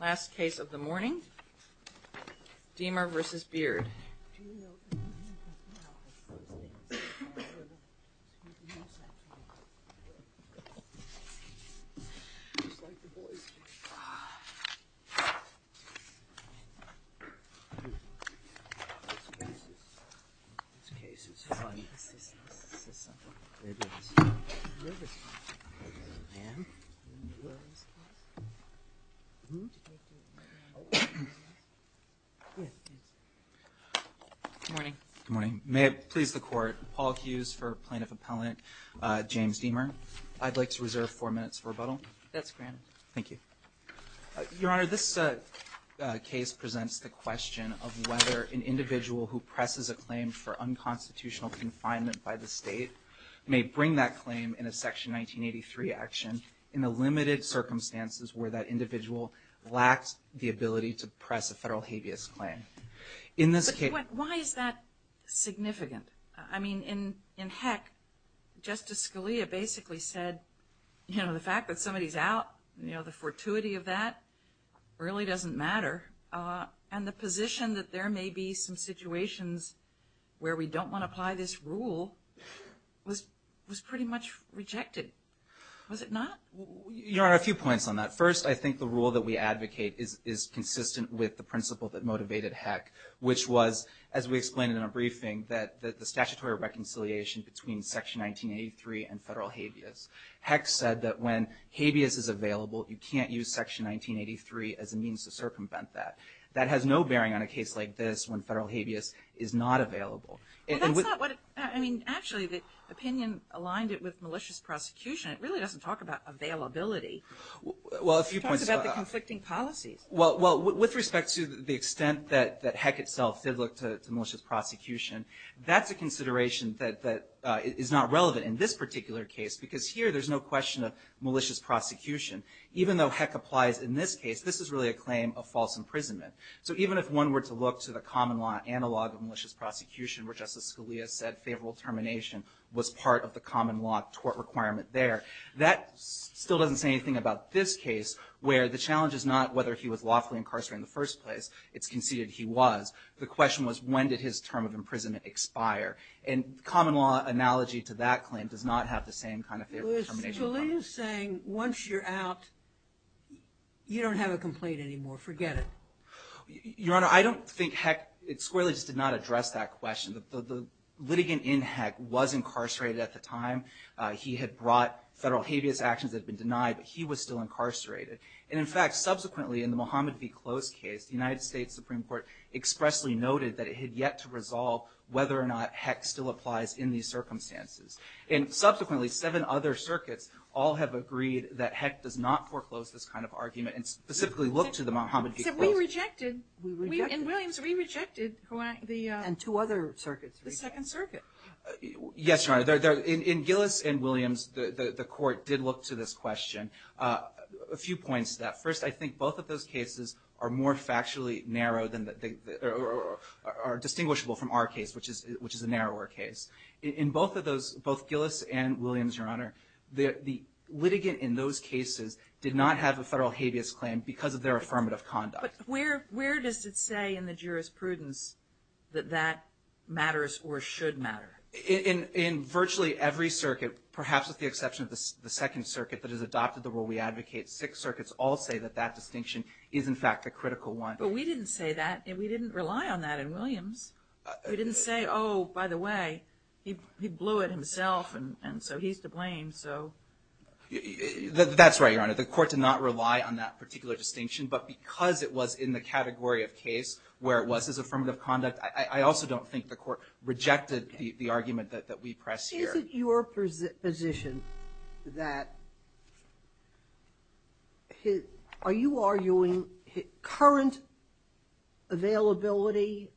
Last case of the morning, Deemer v. Beard May it please the Court, Paul Hughes for Plaintiff Appellant James Deemer. I'd like to reserve four minutes of rebuttal. That's granted. Thank you. Your Honor, this case presents the question of whether an individual who presses a claim for unconstitutional confinement by the state may bring that claim in a Section 1983 action in the limited circumstances where that individual lacks the ability to press a federal habeas claim. In this case – But why is that significant? I mean, in heck, Justice Scalia basically said, you know, the fact that somebody's out, you know, the fortuity of that really doesn't matter. And the position that there may be some situations where we don't want to apply this rule was pretty much rejected. Was it not? Your Honor, a few points on that. First, I think the rule that we advocate is consistent with the principle that motivated heck, which was, as we explained in our briefing, that the statutory reconciliation between Section 1983 and federal habeas. Heck said that when habeas is available, you can't use Section 1983 as a means to circumvent that. That has no bearing on a case like this when federal habeas is not available. Well, that's not what – I mean, actually, the opinion aligned it with malicious prosecution. It really doesn't talk about availability. It talks about the conflicting policies. Well, with respect to the extent that heck itself did look to malicious prosecution, that's a consideration that is not relevant in this particular case because here there's no question of malicious prosecution. Even though heck applies in this case, this is really a claim of false imprisonment. So even if one were to look to the common law analog of malicious prosecution, where Justice Scalia said favorable termination was part of the case, that still doesn't say anything about this case, where the challenge is not whether he was lawfully incarcerated in the first place. It's conceded he was. The question was when did his term of imprisonment expire. And common law analogy to that claim does not have the same kind of favorable termination. Well, Scalia's saying once you're out, you don't have a complaint anymore. Forget it. Your Honor, I don't think heck squarely just did not address that question. The litigant in heck was incarcerated at the time. He had brought federal habeas actions that had been denied, but he was still incarcerated. And in fact, subsequently in the Mohammed v. Close case, the United States Supreme Court expressly noted that it had yet to resolve whether or not heck still applies in these circumstances. And subsequently, seven other circuits all have agreed that heck does not foreclose this kind of argument and specifically look to the Mohammed v. Close. Except we rejected. We rejected. In Williams, we rejected the— And two other circuits rejected. The Second Circuit. Yes, Your Honor. In Gillis and Williams, the Court did look to this question. A few points to that. First, I think both of those cases are more factually narrow than the — are distinguishable from our case, which is a narrower case. In both of those, both Gillis and Williams, Your Honor, the litigant in those cases did not have a federal habeas claim because of their affirmative conduct. But where does it say in the jurisprudence that that matters or should matter? In virtually every circuit, perhaps with the exception of the Second Circuit that has adopted the rule we advocate, six circuits all say that that distinction is, in fact, the critical one. But we didn't say that. We didn't rely on that in Williams. We didn't say, oh, by the way, he blew it himself, and so he's to blame, so — That's right, Your Honor. The Court did not rely on that particular distinction. But because it was in the category of case where it was his affirmative conduct, I also don't think the Court rejected the argument that we press here. Is it your position that — are you arguing current availability,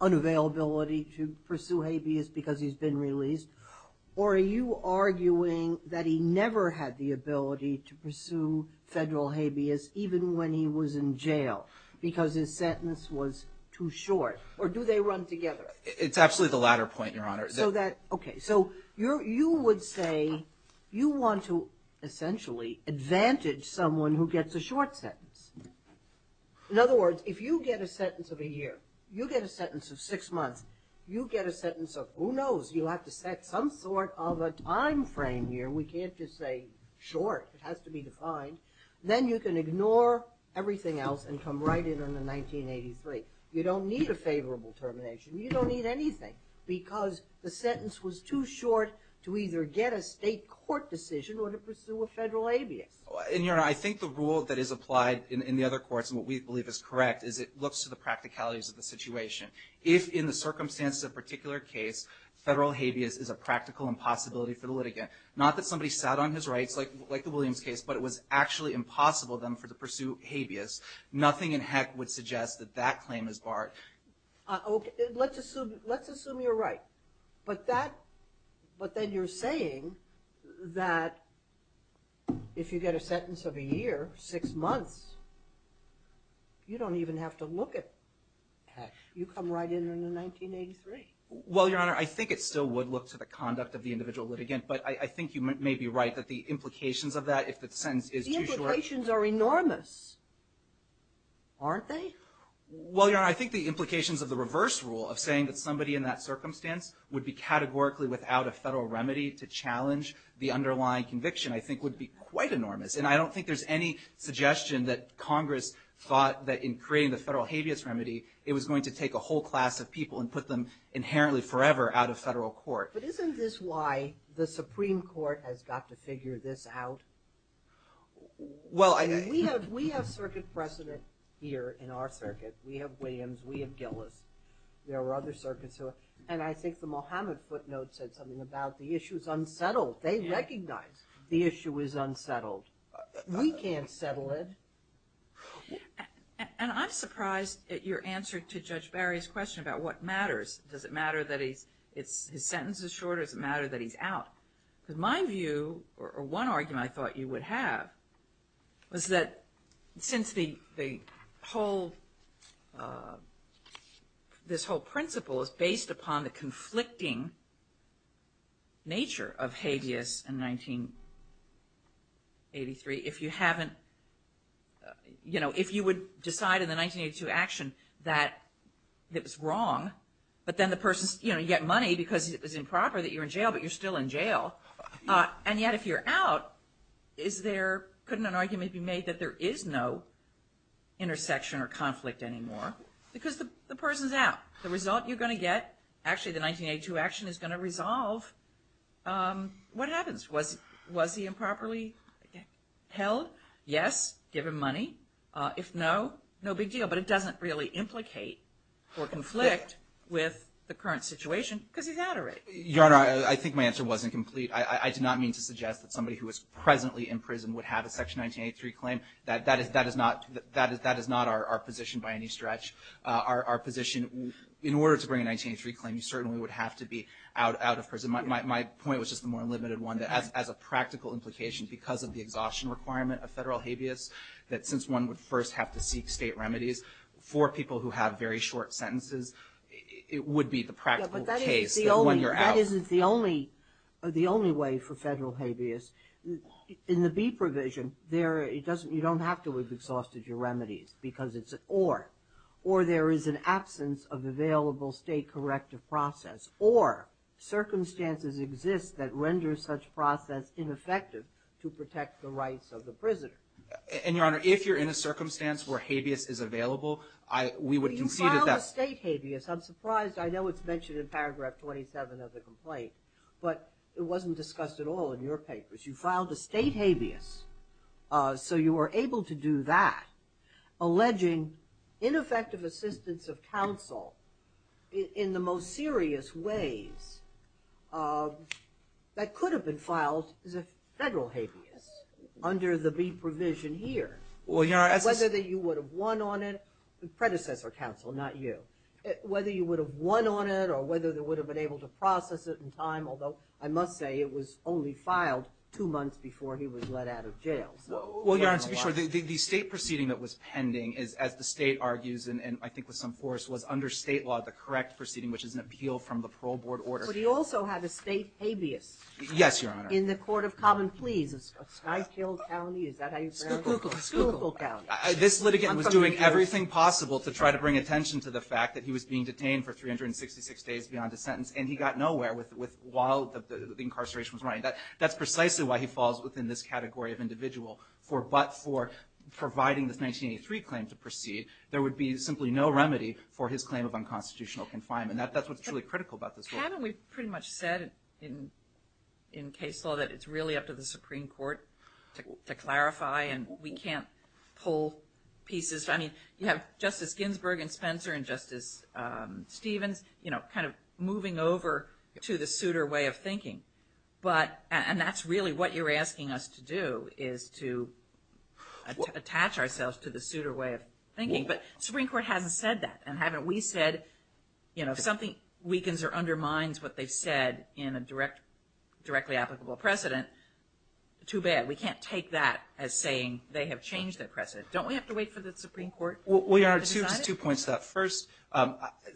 unavailability to pursue habeas because he's been released? Or are you arguing that he never had the ability to pursue federal habeas even when he was in jail because his sentence was too short? Or do they run together? It's absolutely the latter point, Your Honor. So that — okay. So you would say you want to essentially advantage someone who gets a short sentence. In other words, if you get a sentence of a year, you get a sentence of six months, you get a sentence of — who knows? You'll have to set some sort of a time frame here. We can't just say short. It has to be defined. Then you can ignore everything else and come right in on the 1983. You don't need a favorable termination. You don't need anything because the sentence was too short to either get a state court decision or to pursue a federal habeas. And, Your Honor, I think the rule that is applied in the other courts and what we believe is correct is it looks to the practicalities of the situation. If in the circumstances of a particular case, federal habeas is a practical impossibility for the litigant, not that somebody sat on his rights like the Williams case, but it was actually impossible then for them to pursue habeas, nothing in heck would suggest that that claim is barred. Okay. Let's assume you're right. But that — but then you're saying that if you get a sentence of a year, six months, you don't even have to look at heck. You come right in on the 1983. Well, Your Honor, I think it still would look to the conduct of the individual litigant. But I think you may be right that the implications of that, if the sentence is too short — The implications are enormous, aren't they? Well, Your Honor, I think the implications of the reverse rule of saying that somebody in that circumstance would be categorically without a federal remedy to challenge the underlying conviction I think would be quite enormous. And I don't think there's any suggestion that Congress thought that in creating the federal habeas remedy, it was going to take a whole class of people and put them inherently forever out of federal court. But isn't this why the Supreme Court has got to figure this out? Well — We have circuit precedent here in our circuit. We have Williams. We have Gillis. There are other circuits who — and I think the Mohammed footnote said something about the issue is unsettled. They recognize the issue is unsettled. We can't settle it. And I'm surprised at your answer to Judge Barry's question about what matters. Does it matter that his sentence is short or does it matter that he's out? Because my view or one argument I thought you would have was that since the whole — this whole principle is based upon the conflicting nature of habeas in 1983, if you haven't — you know, if you would decide in the 1982 action that it was wrong, but then the person's — you know, you get money because it was improper that you were in jail, but you're still in jail. And yet if you're out, is there — couldn't an argument be made that there is no intersection or conflict anymore? Because the person's out. The result you're going to get — actually the 1982 action is going to resolve what happens. Was he improperly held? Yes. Give him money. If no, no big deal. But it doesn't really implicate or conflict with the current situation because he's out already. Your Honor, I think my answer wasn't complete. I did not mean to suggest that somebody who are positioned by any stretch are positioned — in order to bring a 1983 claim, you certainly would have to be out of prison. My point was just the more limited one. As a practical implication, because of the exhaustion requirement of federal habeas, that since one would first have to seek state remedies for people who have very short sentences, it would be the practical case that when you're out — But that isn't the only — the only way for federal habeas. In the B provision, there — it doesn't — you don't have to have exhausted your remedies because it's — or there is an absence of available state corrective process, or circumstances exist that render such process ineffective to protect the rights of the prisoner. And, Your Honor, if you're in a circumstance where habeas is available, I — we would concede that — You filed a state habeas. I'm surprised — I know it's mentioned in paragraph 27 of the So you were able to do that, alleging ineffective assistance of counsel in the most serious ways that could have been filed as a federal habeas under the B provision here. Well, Your Honor, that's — Whether that you would have won on it — predecessor counsel, not you — whether you would have won on it or whether they would have been able to process it in time, although I must say it was only filed two months before he was let out of jail. Well, Your Honor, to be sure, the state proceeding that was pending is, as the state argues, and I think with some force, was under state law, the correct proceeding, which is an appeal from the parole board order. But he also had a state habeas. Yes, Your Honor. In the court of common pleas, in Skyfield County. Is that how you pronounce it? Schuylkill. Schuylkill County. This litigant was doing everything possible to try to bring attention to the fact that he was being detained for 366 days beyond a sentence, and he got nowhere with — while the incarceration was running. That's precisely why he falls within this category of individual for — but for providing this 1983 claim to proceed, there would be simply no remedy for his claim of unconstitutional confinement. That's what's truly critical about this case. Haven't we pretty much said in case law that it's really up to the Supreme Court to clarify and we can't pull pieces — I mean, you have Justice Ginsburg and Spencer and Justice Stevens, you know, kind of moving over to the suitor way of thinking, but — and that's really what you're asking us to do, is to attach ourselves to the suitor way of thinking. But the Supreme Court hasn't said that, and haven't we said, you know, if something weakens or undermines what they've said in a directly applicable precedent, too bad. We can't take that as saying they have changed their precedent. Don't we have to wait for the Supreme Court to decide it? Well, Your Honor, two points to that. First,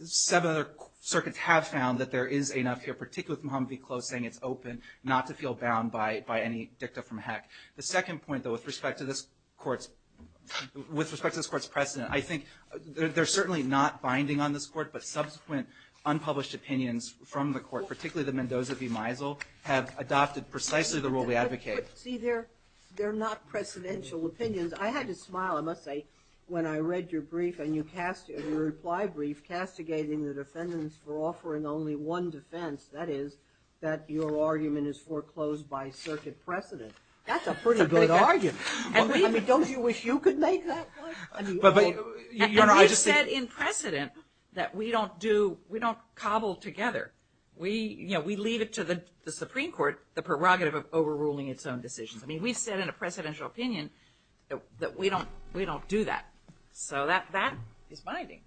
seven other circuits have found that there is enough here, particularly with Muhammad not to feel bound by any dicta from Heck. The second point, though, with respect to this Court's precedent, I think they're certainly not binding on this Court, but subsequent unpublished opinions from the Court, particularly the Mendoza v. Meisel, have adopted precisely the rule we advocate. See, they're not precedential opinions. I had to smile, I must say, when I read your brief and your reply brief castigating the defendants for offering only one defense, that is, that your argument is foreclosed by circuit precedent. That's a pretty good argument. I mean, don't you wish you could make that one? Your Honor, I just think... And we've said in precedent that we don't do, we don't cobble together. We, you know, we leave it to the Supreme Court, the prerogative of overruling its own decisions. I mean, we've said in a precedential opinion that we don't do that. So that is binding.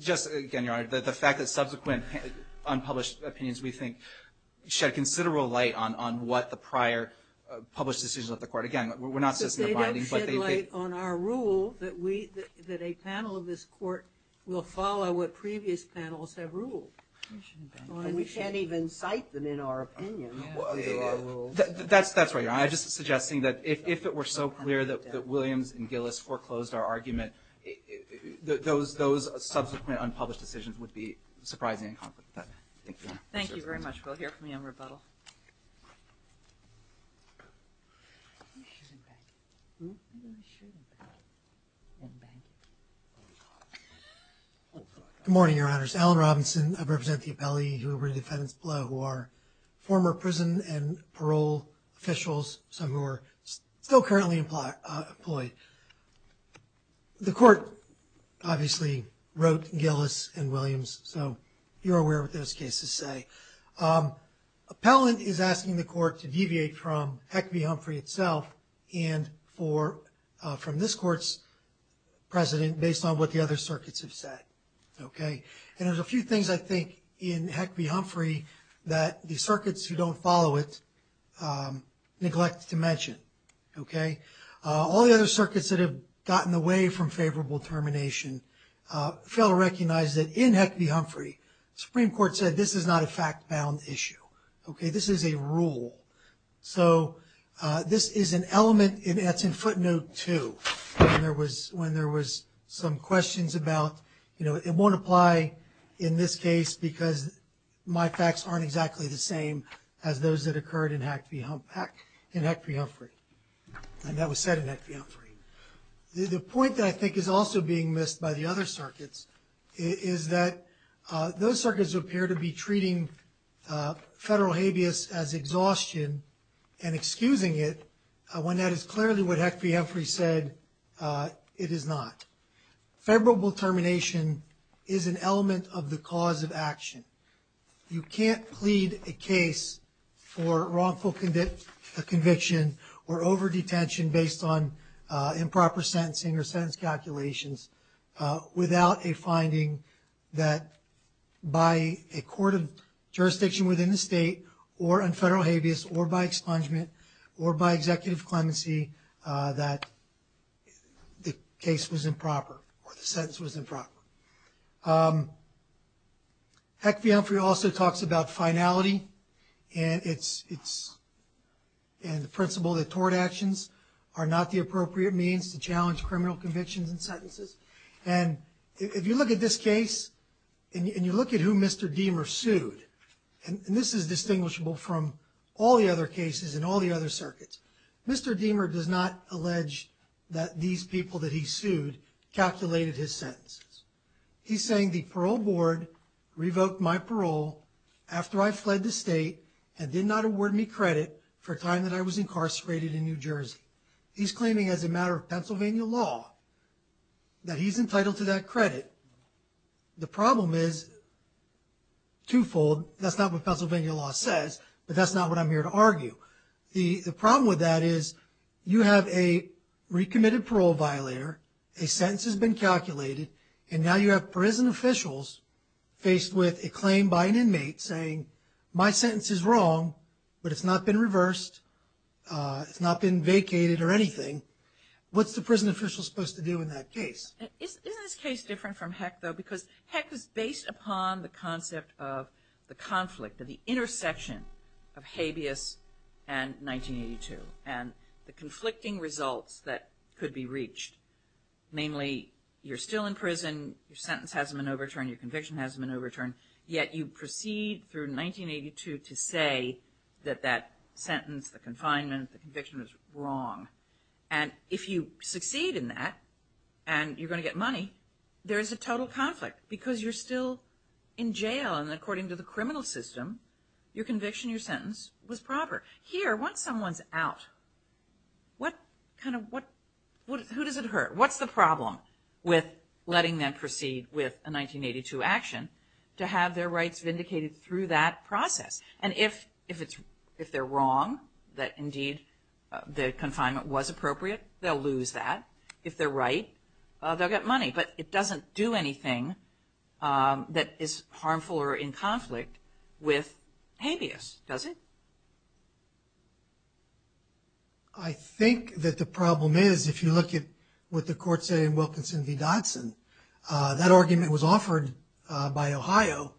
Just, again, Your Honor, the fact that subsequent unpublished opinions, we think, shed considerable light on what the prior published decisions of the Court. Again, we're not suggesting they're binding, but they... But they don't shed light on our rule that we, that a panel of this Court will follow what previous panels have ruled. And we can't even cite them in our opinion. That's right, Your Honor. I'm just suggesting that if it were so clear that Williams and Gillis foreclosed our argument, those subsequent unpublished decisions would be surprising and conflicted. Thank you, Your Honor. Thank you very much. We'll hear from you in rebuttal. Good morning, Your Honors. Alan Robinson. I represent the appellee who redefends Plough, who are former prison and parole officials, some who are still currently employed. The Court, obviously, wrote Gillis and Williams, so you're aware of what those cases say. Appellant is asking the Court to deviate from Heck v. Humphrey itself and from this Court's precedent based on what the other circuits have said. Okay? And there's a few things, I think, in Heck v. Humphrey that the circuits who don't follow it neglect to mention. Okay? All the other circuits that have gotten away from favorable termination fail to recognize that in Heck v. Humphrey, the Supreme Court said this is not a fact-bound issue. Okay? This is a rule. So this is an element, and that's in footnote two, when there was some questions about, you know, it won't apply in this case because my facts aren't exactly the same as those that occurred in Heck v. Humphrey. And that was said in Heck v. Humphrey. The point that I think is also being missed by the other circuits is that those circuits appear to be treating federal habeas as exhaustion and excusing it when that is clearly what Heck v. Humphrey said it is not. Favorable termination is an element of the cause of action. You can't plead a case for wrongful conviction or over-detention based on improper sentencing or sentence calculations without a finding that by a court of jurisdiction within the state or on federal habeas or by expungement or by executive clemency that the case was improper or the sentence was improper. Heck v. Humphrey also talks about finality and the principle that tort actions are not the appropriate means to challenge criminal convictions and sentences. And if you look at this case and you look at who Mr. Deamer sued, and this is distinguishable from all the other cases in all the other circuits, Mr. Deamer does not allege that these people that he sued calculated his sentences. He's saying the parole board revoked my parole after I fled the state and did not award me credit for a time that I was incarcerated in New Jersey. He's claiming as a matter of Pennsylvania law that he's entitled to that credit. The problem is twofold. That's not what Pennsylvania law says, but that's not what I'm here to argue. The problem with that is you have a recommitted parole violator, a sentence has been calculated, and now you have prison officials faced with a claim by an inmate saying, my sentence is wrong, but it's not been reversed, it's not been vacated or anything. What's the prison official supposed to do in that case? Isn't this case different from Heck, though? Because Heck is based upon the concept of the conflict of the intersection of habeas and 1982 and the conflicting results that could be reached. Namely, you're still in prison, your sentence hasn't been overturned, your conviction hasn't been overturned, yet you proceed through 1982 to say that that sentence, the confinement, the conviction was wrong. And if you succeed in that, and you're going to get money, there is a total conflict because you're still in jail and according to the criminal system, your conviction, your sentence was proper. Here, once someone's out, who does it hurt? What's the problem with letting them proceed with a 1982 action to have their rights vindicated through that process? And if they're wrong, that indeed the confinement was appropriate, they'll lose that. If they're right, they'll get money. But it doesn't do anything that is harmful or in conflict with habeas, does it? I think that the problem is, if you look at what the courts say in Wilkinson v. Dodson, that argument was offered by Ohio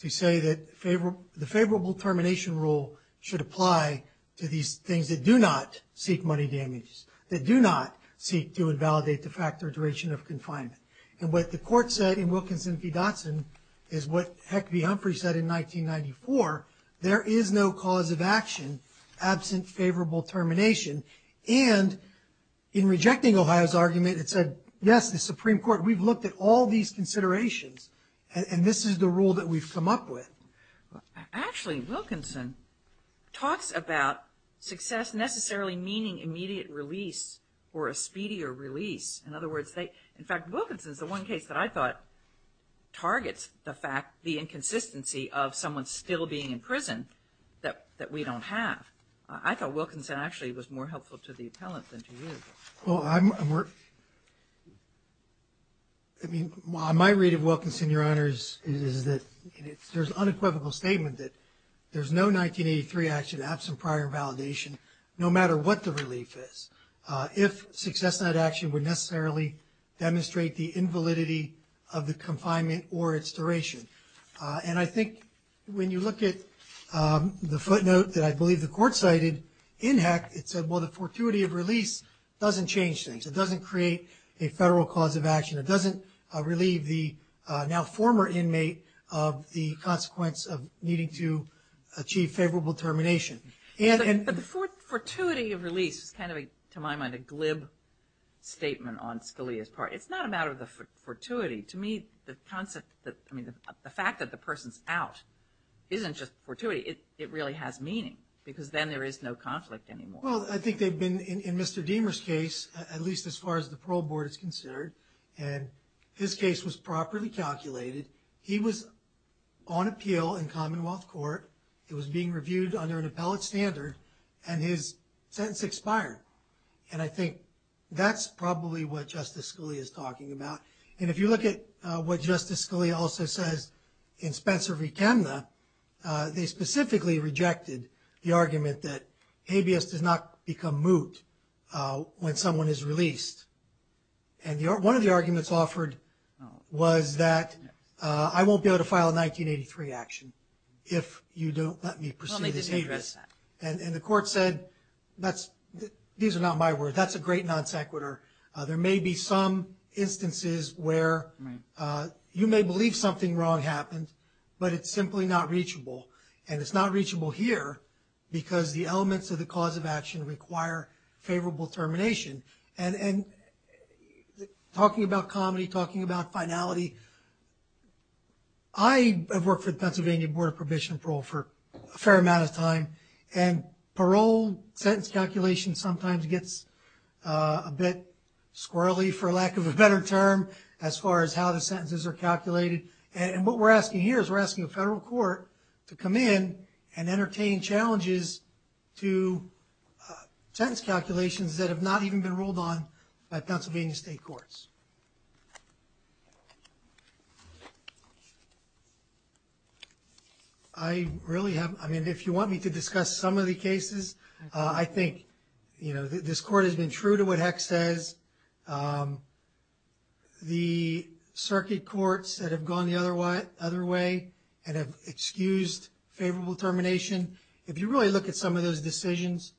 to say that the favorable termination rule should apply to these things that do not seek money damages, that do not seek to invalidate the fact or duration of confinement. And what the court said in Wilkinson v. Dodson is what Heck v. Humphrey said in 1994, there is no cause of action absent favorable termination. And in rejecting Ohio's argument, it said, yes, the Supreme Court, we've looked at all these considerations and this is the rule that we've come up with. Actually, Wilkinson talks about success necessarily meaning immediate release or a speedier release. In other words, in fact, Wilkinson is the one case that I thought targets the fact, the inconsistency of someone still being in prison that we don't have. I thought Wilkinson actually was more helpful to the appellant than to you. Well, I mean, my read of Wilkinson, Your Honors, is that there's an unequivocal statement that there's no 1983 action absent prior validation, no matter what the relief is. If success in that action would necessarily demonstrate the invalidity of the confinement or its duration. And I think when you look at the footnote that I believe the court cited in Heck, it said, well, the fortuity of release doesn't change things. It doesn't create a federal cause of action. It doesn't relieve the now former inmate of the consequence of needing to achieve favorable termination. But the fortuity of release is kind of, to my mind, a glib statement on Scalia's part. It's not a matter of the fortuity. To me, the concept, I mean, the fact that the person's out isn't just fortuity. It really has meaning because then there is no conflict anymore. Well, I think they've been, in Mr. Deamer's case, at least as far as the parole board is considered, and his case was properly calculated. He was on appeal in Commonwealth Court. It was being reviewed under an appellate standard, and his sentence expired. And I think that's probably what Justice Scalia is talking about. And if you look at what Justice Scalia also says in Spencer v. Kemna, they specifically rejected the argument that habeas does not become moot when someone is released. And one of the arguments offered was that I won't be able to file a 1983 action if you don't let me pursue this habeas. And the court said, these are not my words. That's a great non sequitur. There may be some instances where you may believe something wrong happened, but it's simply not reachable, and it's not reachable here because the elements of the cause of action require favorable termination. And talking about comedy, talking about finality, I have worked for the Pennsylvania Board of Probation and Parole for a fair amount of time, and parole sentence calculation sometimes gets a bit squirrely, for lack of a better term, as far as how the sentences are calculated. And what we're asking here is we're asking the federal court to come in and entertain challenges to sentence calculations that have not even been ruled on by Pennsylvania state courts. I really have, I mean, if you want me to discuss some of the cases, I think, you know, this court has been true to what HEC says. The circuit courts that have gone the other way and have excused favorable termination, if you really look at some of those decisions,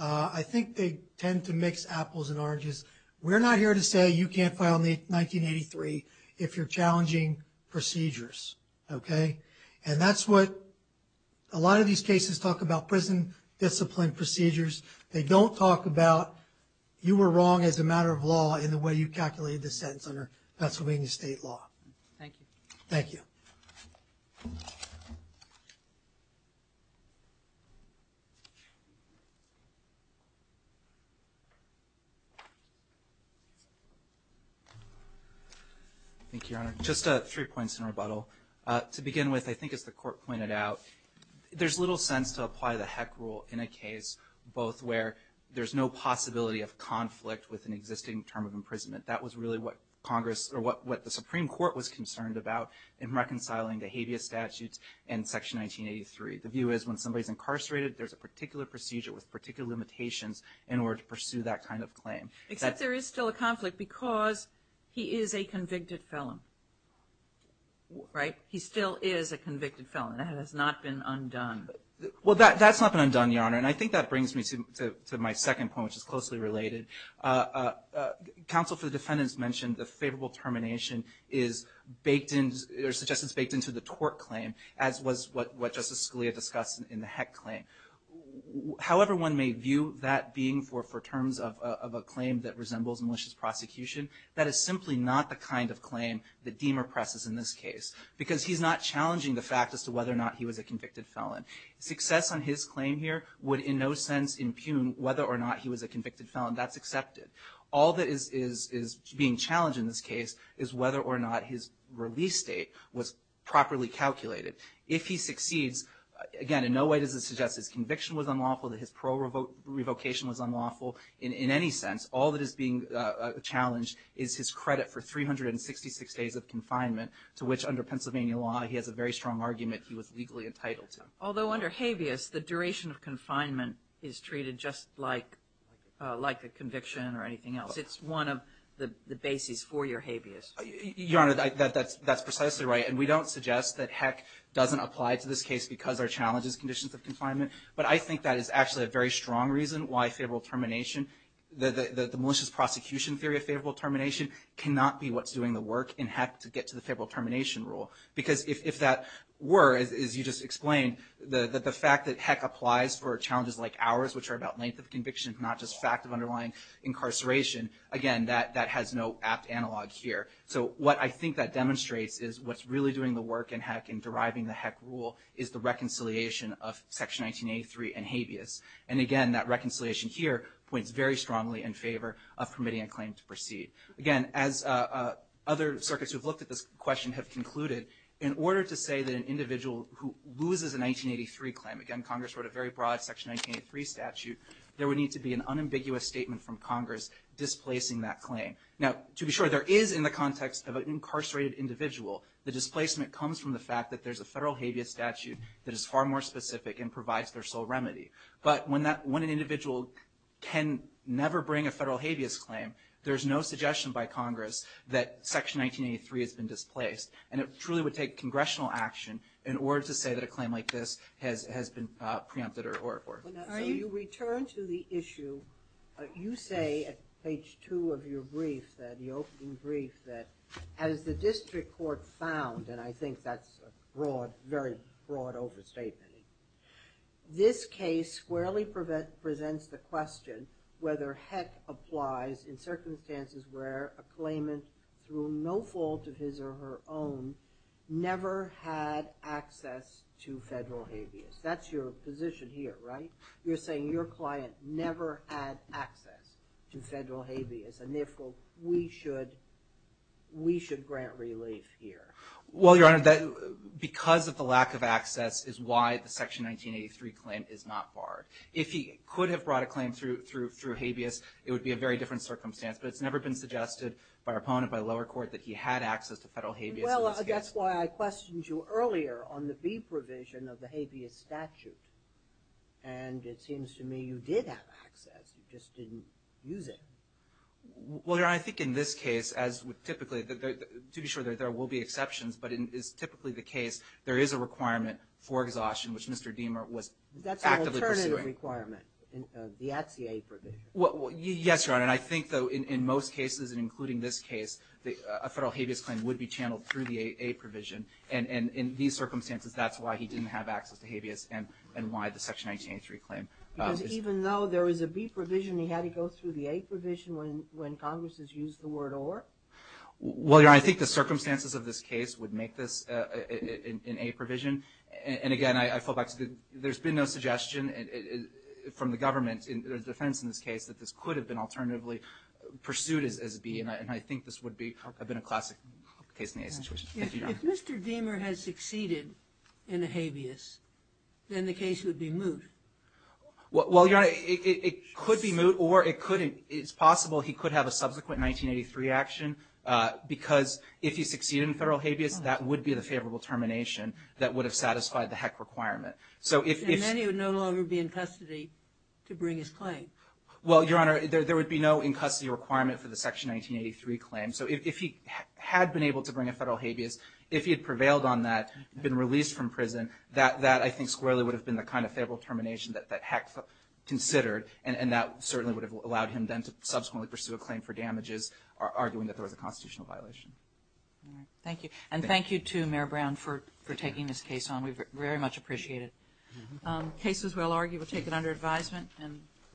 I think they tend to mix apples and oranges. We're not here to say you can't file 1983 if you're challenging procedures, okay? And that's what a lot of these cases talk about, prison discipline procedures. They don't talk about you were wrong as a matter of law in the way you calculated the sentence under Pennsylvania state law. Thank you. Thank you. Thank you, Your Honor. Just three points in rebuttal. To begin with, I think as the court pointed out, there's little sense to apply the HEC rule in a case both where there's no possibility of conflict with an existing term of imprisonment. That was really what Congress or what the Supreme Court was concerned about in reconciling the habeas statutes and Section 1983. The view is when somebody's incarcerated, there's a particular procedure with particular limitations in order to pursue that kind of claim. Except there is still a conflict because he is a convicted felon, right? He still is a convicted felon. That has not been undone. Well, that's not been undone, Your Honor. And I think that brings me to my second point, which is closely related. Counsel for the defendants mentioned the favorable termination is baked in or suggested it's baked into the tort claim, as was what Justice Scalia discussed in the HEC claim. However one may view that being for terms of a claim that resembles malicious prosecution, that is simply not the kind of claim that Deamer presses in this case because he's not challenging the fact as to whether or not he was a convicted felon. Success on his claim here would in no sense impugn whether or not he was a convicted felon. That's accepted. All that is being challenged in this case is whether or not his release date was properly calculated. If he succeeds, again in no way does it suggest his conviction was unlawful, that his parole revocation was unlawful in any sense. All that is being challenged is his credit for 366 days of confinement, to which under Pennsylvania law he has a very strong argument he was legally entitled to. Although under habeas, the duration of confinement is treated just like a conviction or anything else. It's one of the bases for your habeas. Your Honor, that's precisely right. And we don't suggest that heck doesn't apply to this case because our challenge is conditions of confinement. But I think that is actually a very strong reason why favorable termination, the malicious prosecution theory of favorable termination, cannot be what's doing the work in heck to get to the favorable termination rule. Because if that were, as you just explained, the fact that heck applies for challenges like ours, which are about length of conviction, not just fact of underlying incarceration, again that has no apt analog here. So what I think that demonstrates is what's really doing the work in heck and deriving the heck rule is the reconciliation of Section 1983 and habeas. And again, that reconciliation here points very strongly in favor of permitting a claim to proceed. Again, as other circuits who have looked at this question have concluded, in order to say that an individual who loses a 1983 claim, again Congress wrote a very broad Section 1983 statute, there would need to be an unambiguous statement from Congress displacing that claim. Now, to be sure, there is in the context of an incarcerated individual, the displacement comes from the fact that there's a federal habeas statute that is far more specific and provides their sole remedy. But when an individual can never bring a federal habeas claim, there's no suggestion by Congress that Section 1983 has been displaced. And it truly would take congressional action in order to say that a claim like this has been preempted. So you return to the issue, you say at page two of your brief, the opening brief, that as the district court found, and I think that's a very broad overstatement, this case squarely presents the question whether heck applies in circumstances where a claimant through no fault of his or her own never had access to federal habeas. That's your position here, right? You're saying your client never had access to federal habeas, and therefore we should grant relief here. Well, Your Honor, because of the lack of access is why the Section 1983 claim is not barred. If he could have brought a claim through habeas, it would be a very different circumstance, but it's never been suggested by our opponent, by the lower court, that he had access to federal habeas in this case. Well, that's why I questioned you earlier on the B provision of the habeas statute, and it seems to me you did have access. You just didn't use it. Well, Your Honor, I think in this case, as typically, to be sure there will be exceptions, but it is typically the case there is a requirement for exhaustion, which Mr. Diemer was actively pursuing. That's an alternative requirement, the at-sea aid provision. Yes, Your Honor, and I think, though, in most cases, including this case, a federal habeas claim would be channeled through the A provision, and in these circumstances, that's why he didn't have access to habeas and why the Section 1983 claim. Because even though there was a B provision, he had to go through the A provision when Congress has used the word or? Well, Your Honor, I think the circumstances of this case would make this an A provision, and again, I fall back to there's been no suggestion from the government, the defense in this case, that this could have been alternatively pursued as a B, and I think this would have been a classic case in the A situation. Thank you, Your Honor. If Mr. Diemer had succeeded in a habeas, then the case would be moot. Well, Your Honor, it could be moot, or it's possible he could have a subsequent 1983 action, because if he succeeded in federal habeas, that would be the favorable termination that would have satisfied the HEC requirement. And then he would no longer be in custody to bring his claim. Well, Your Honor, there would be no in custody requirement for the Section 1983 claim. So if he had been able to bring a federal habeas, if he had prevailed on that, been released from prison, that I think squarely would have been the kind of favorable termination that HEC considered, and that certainly would have allowed him then to subsequently pursue a claim for damages, arguing that there was a constitutional violation. All right. Thank you. And thank you to Mayor Brown for taking this case on. We very much appreciate it. Cases, we'll argue, were taken under advisement.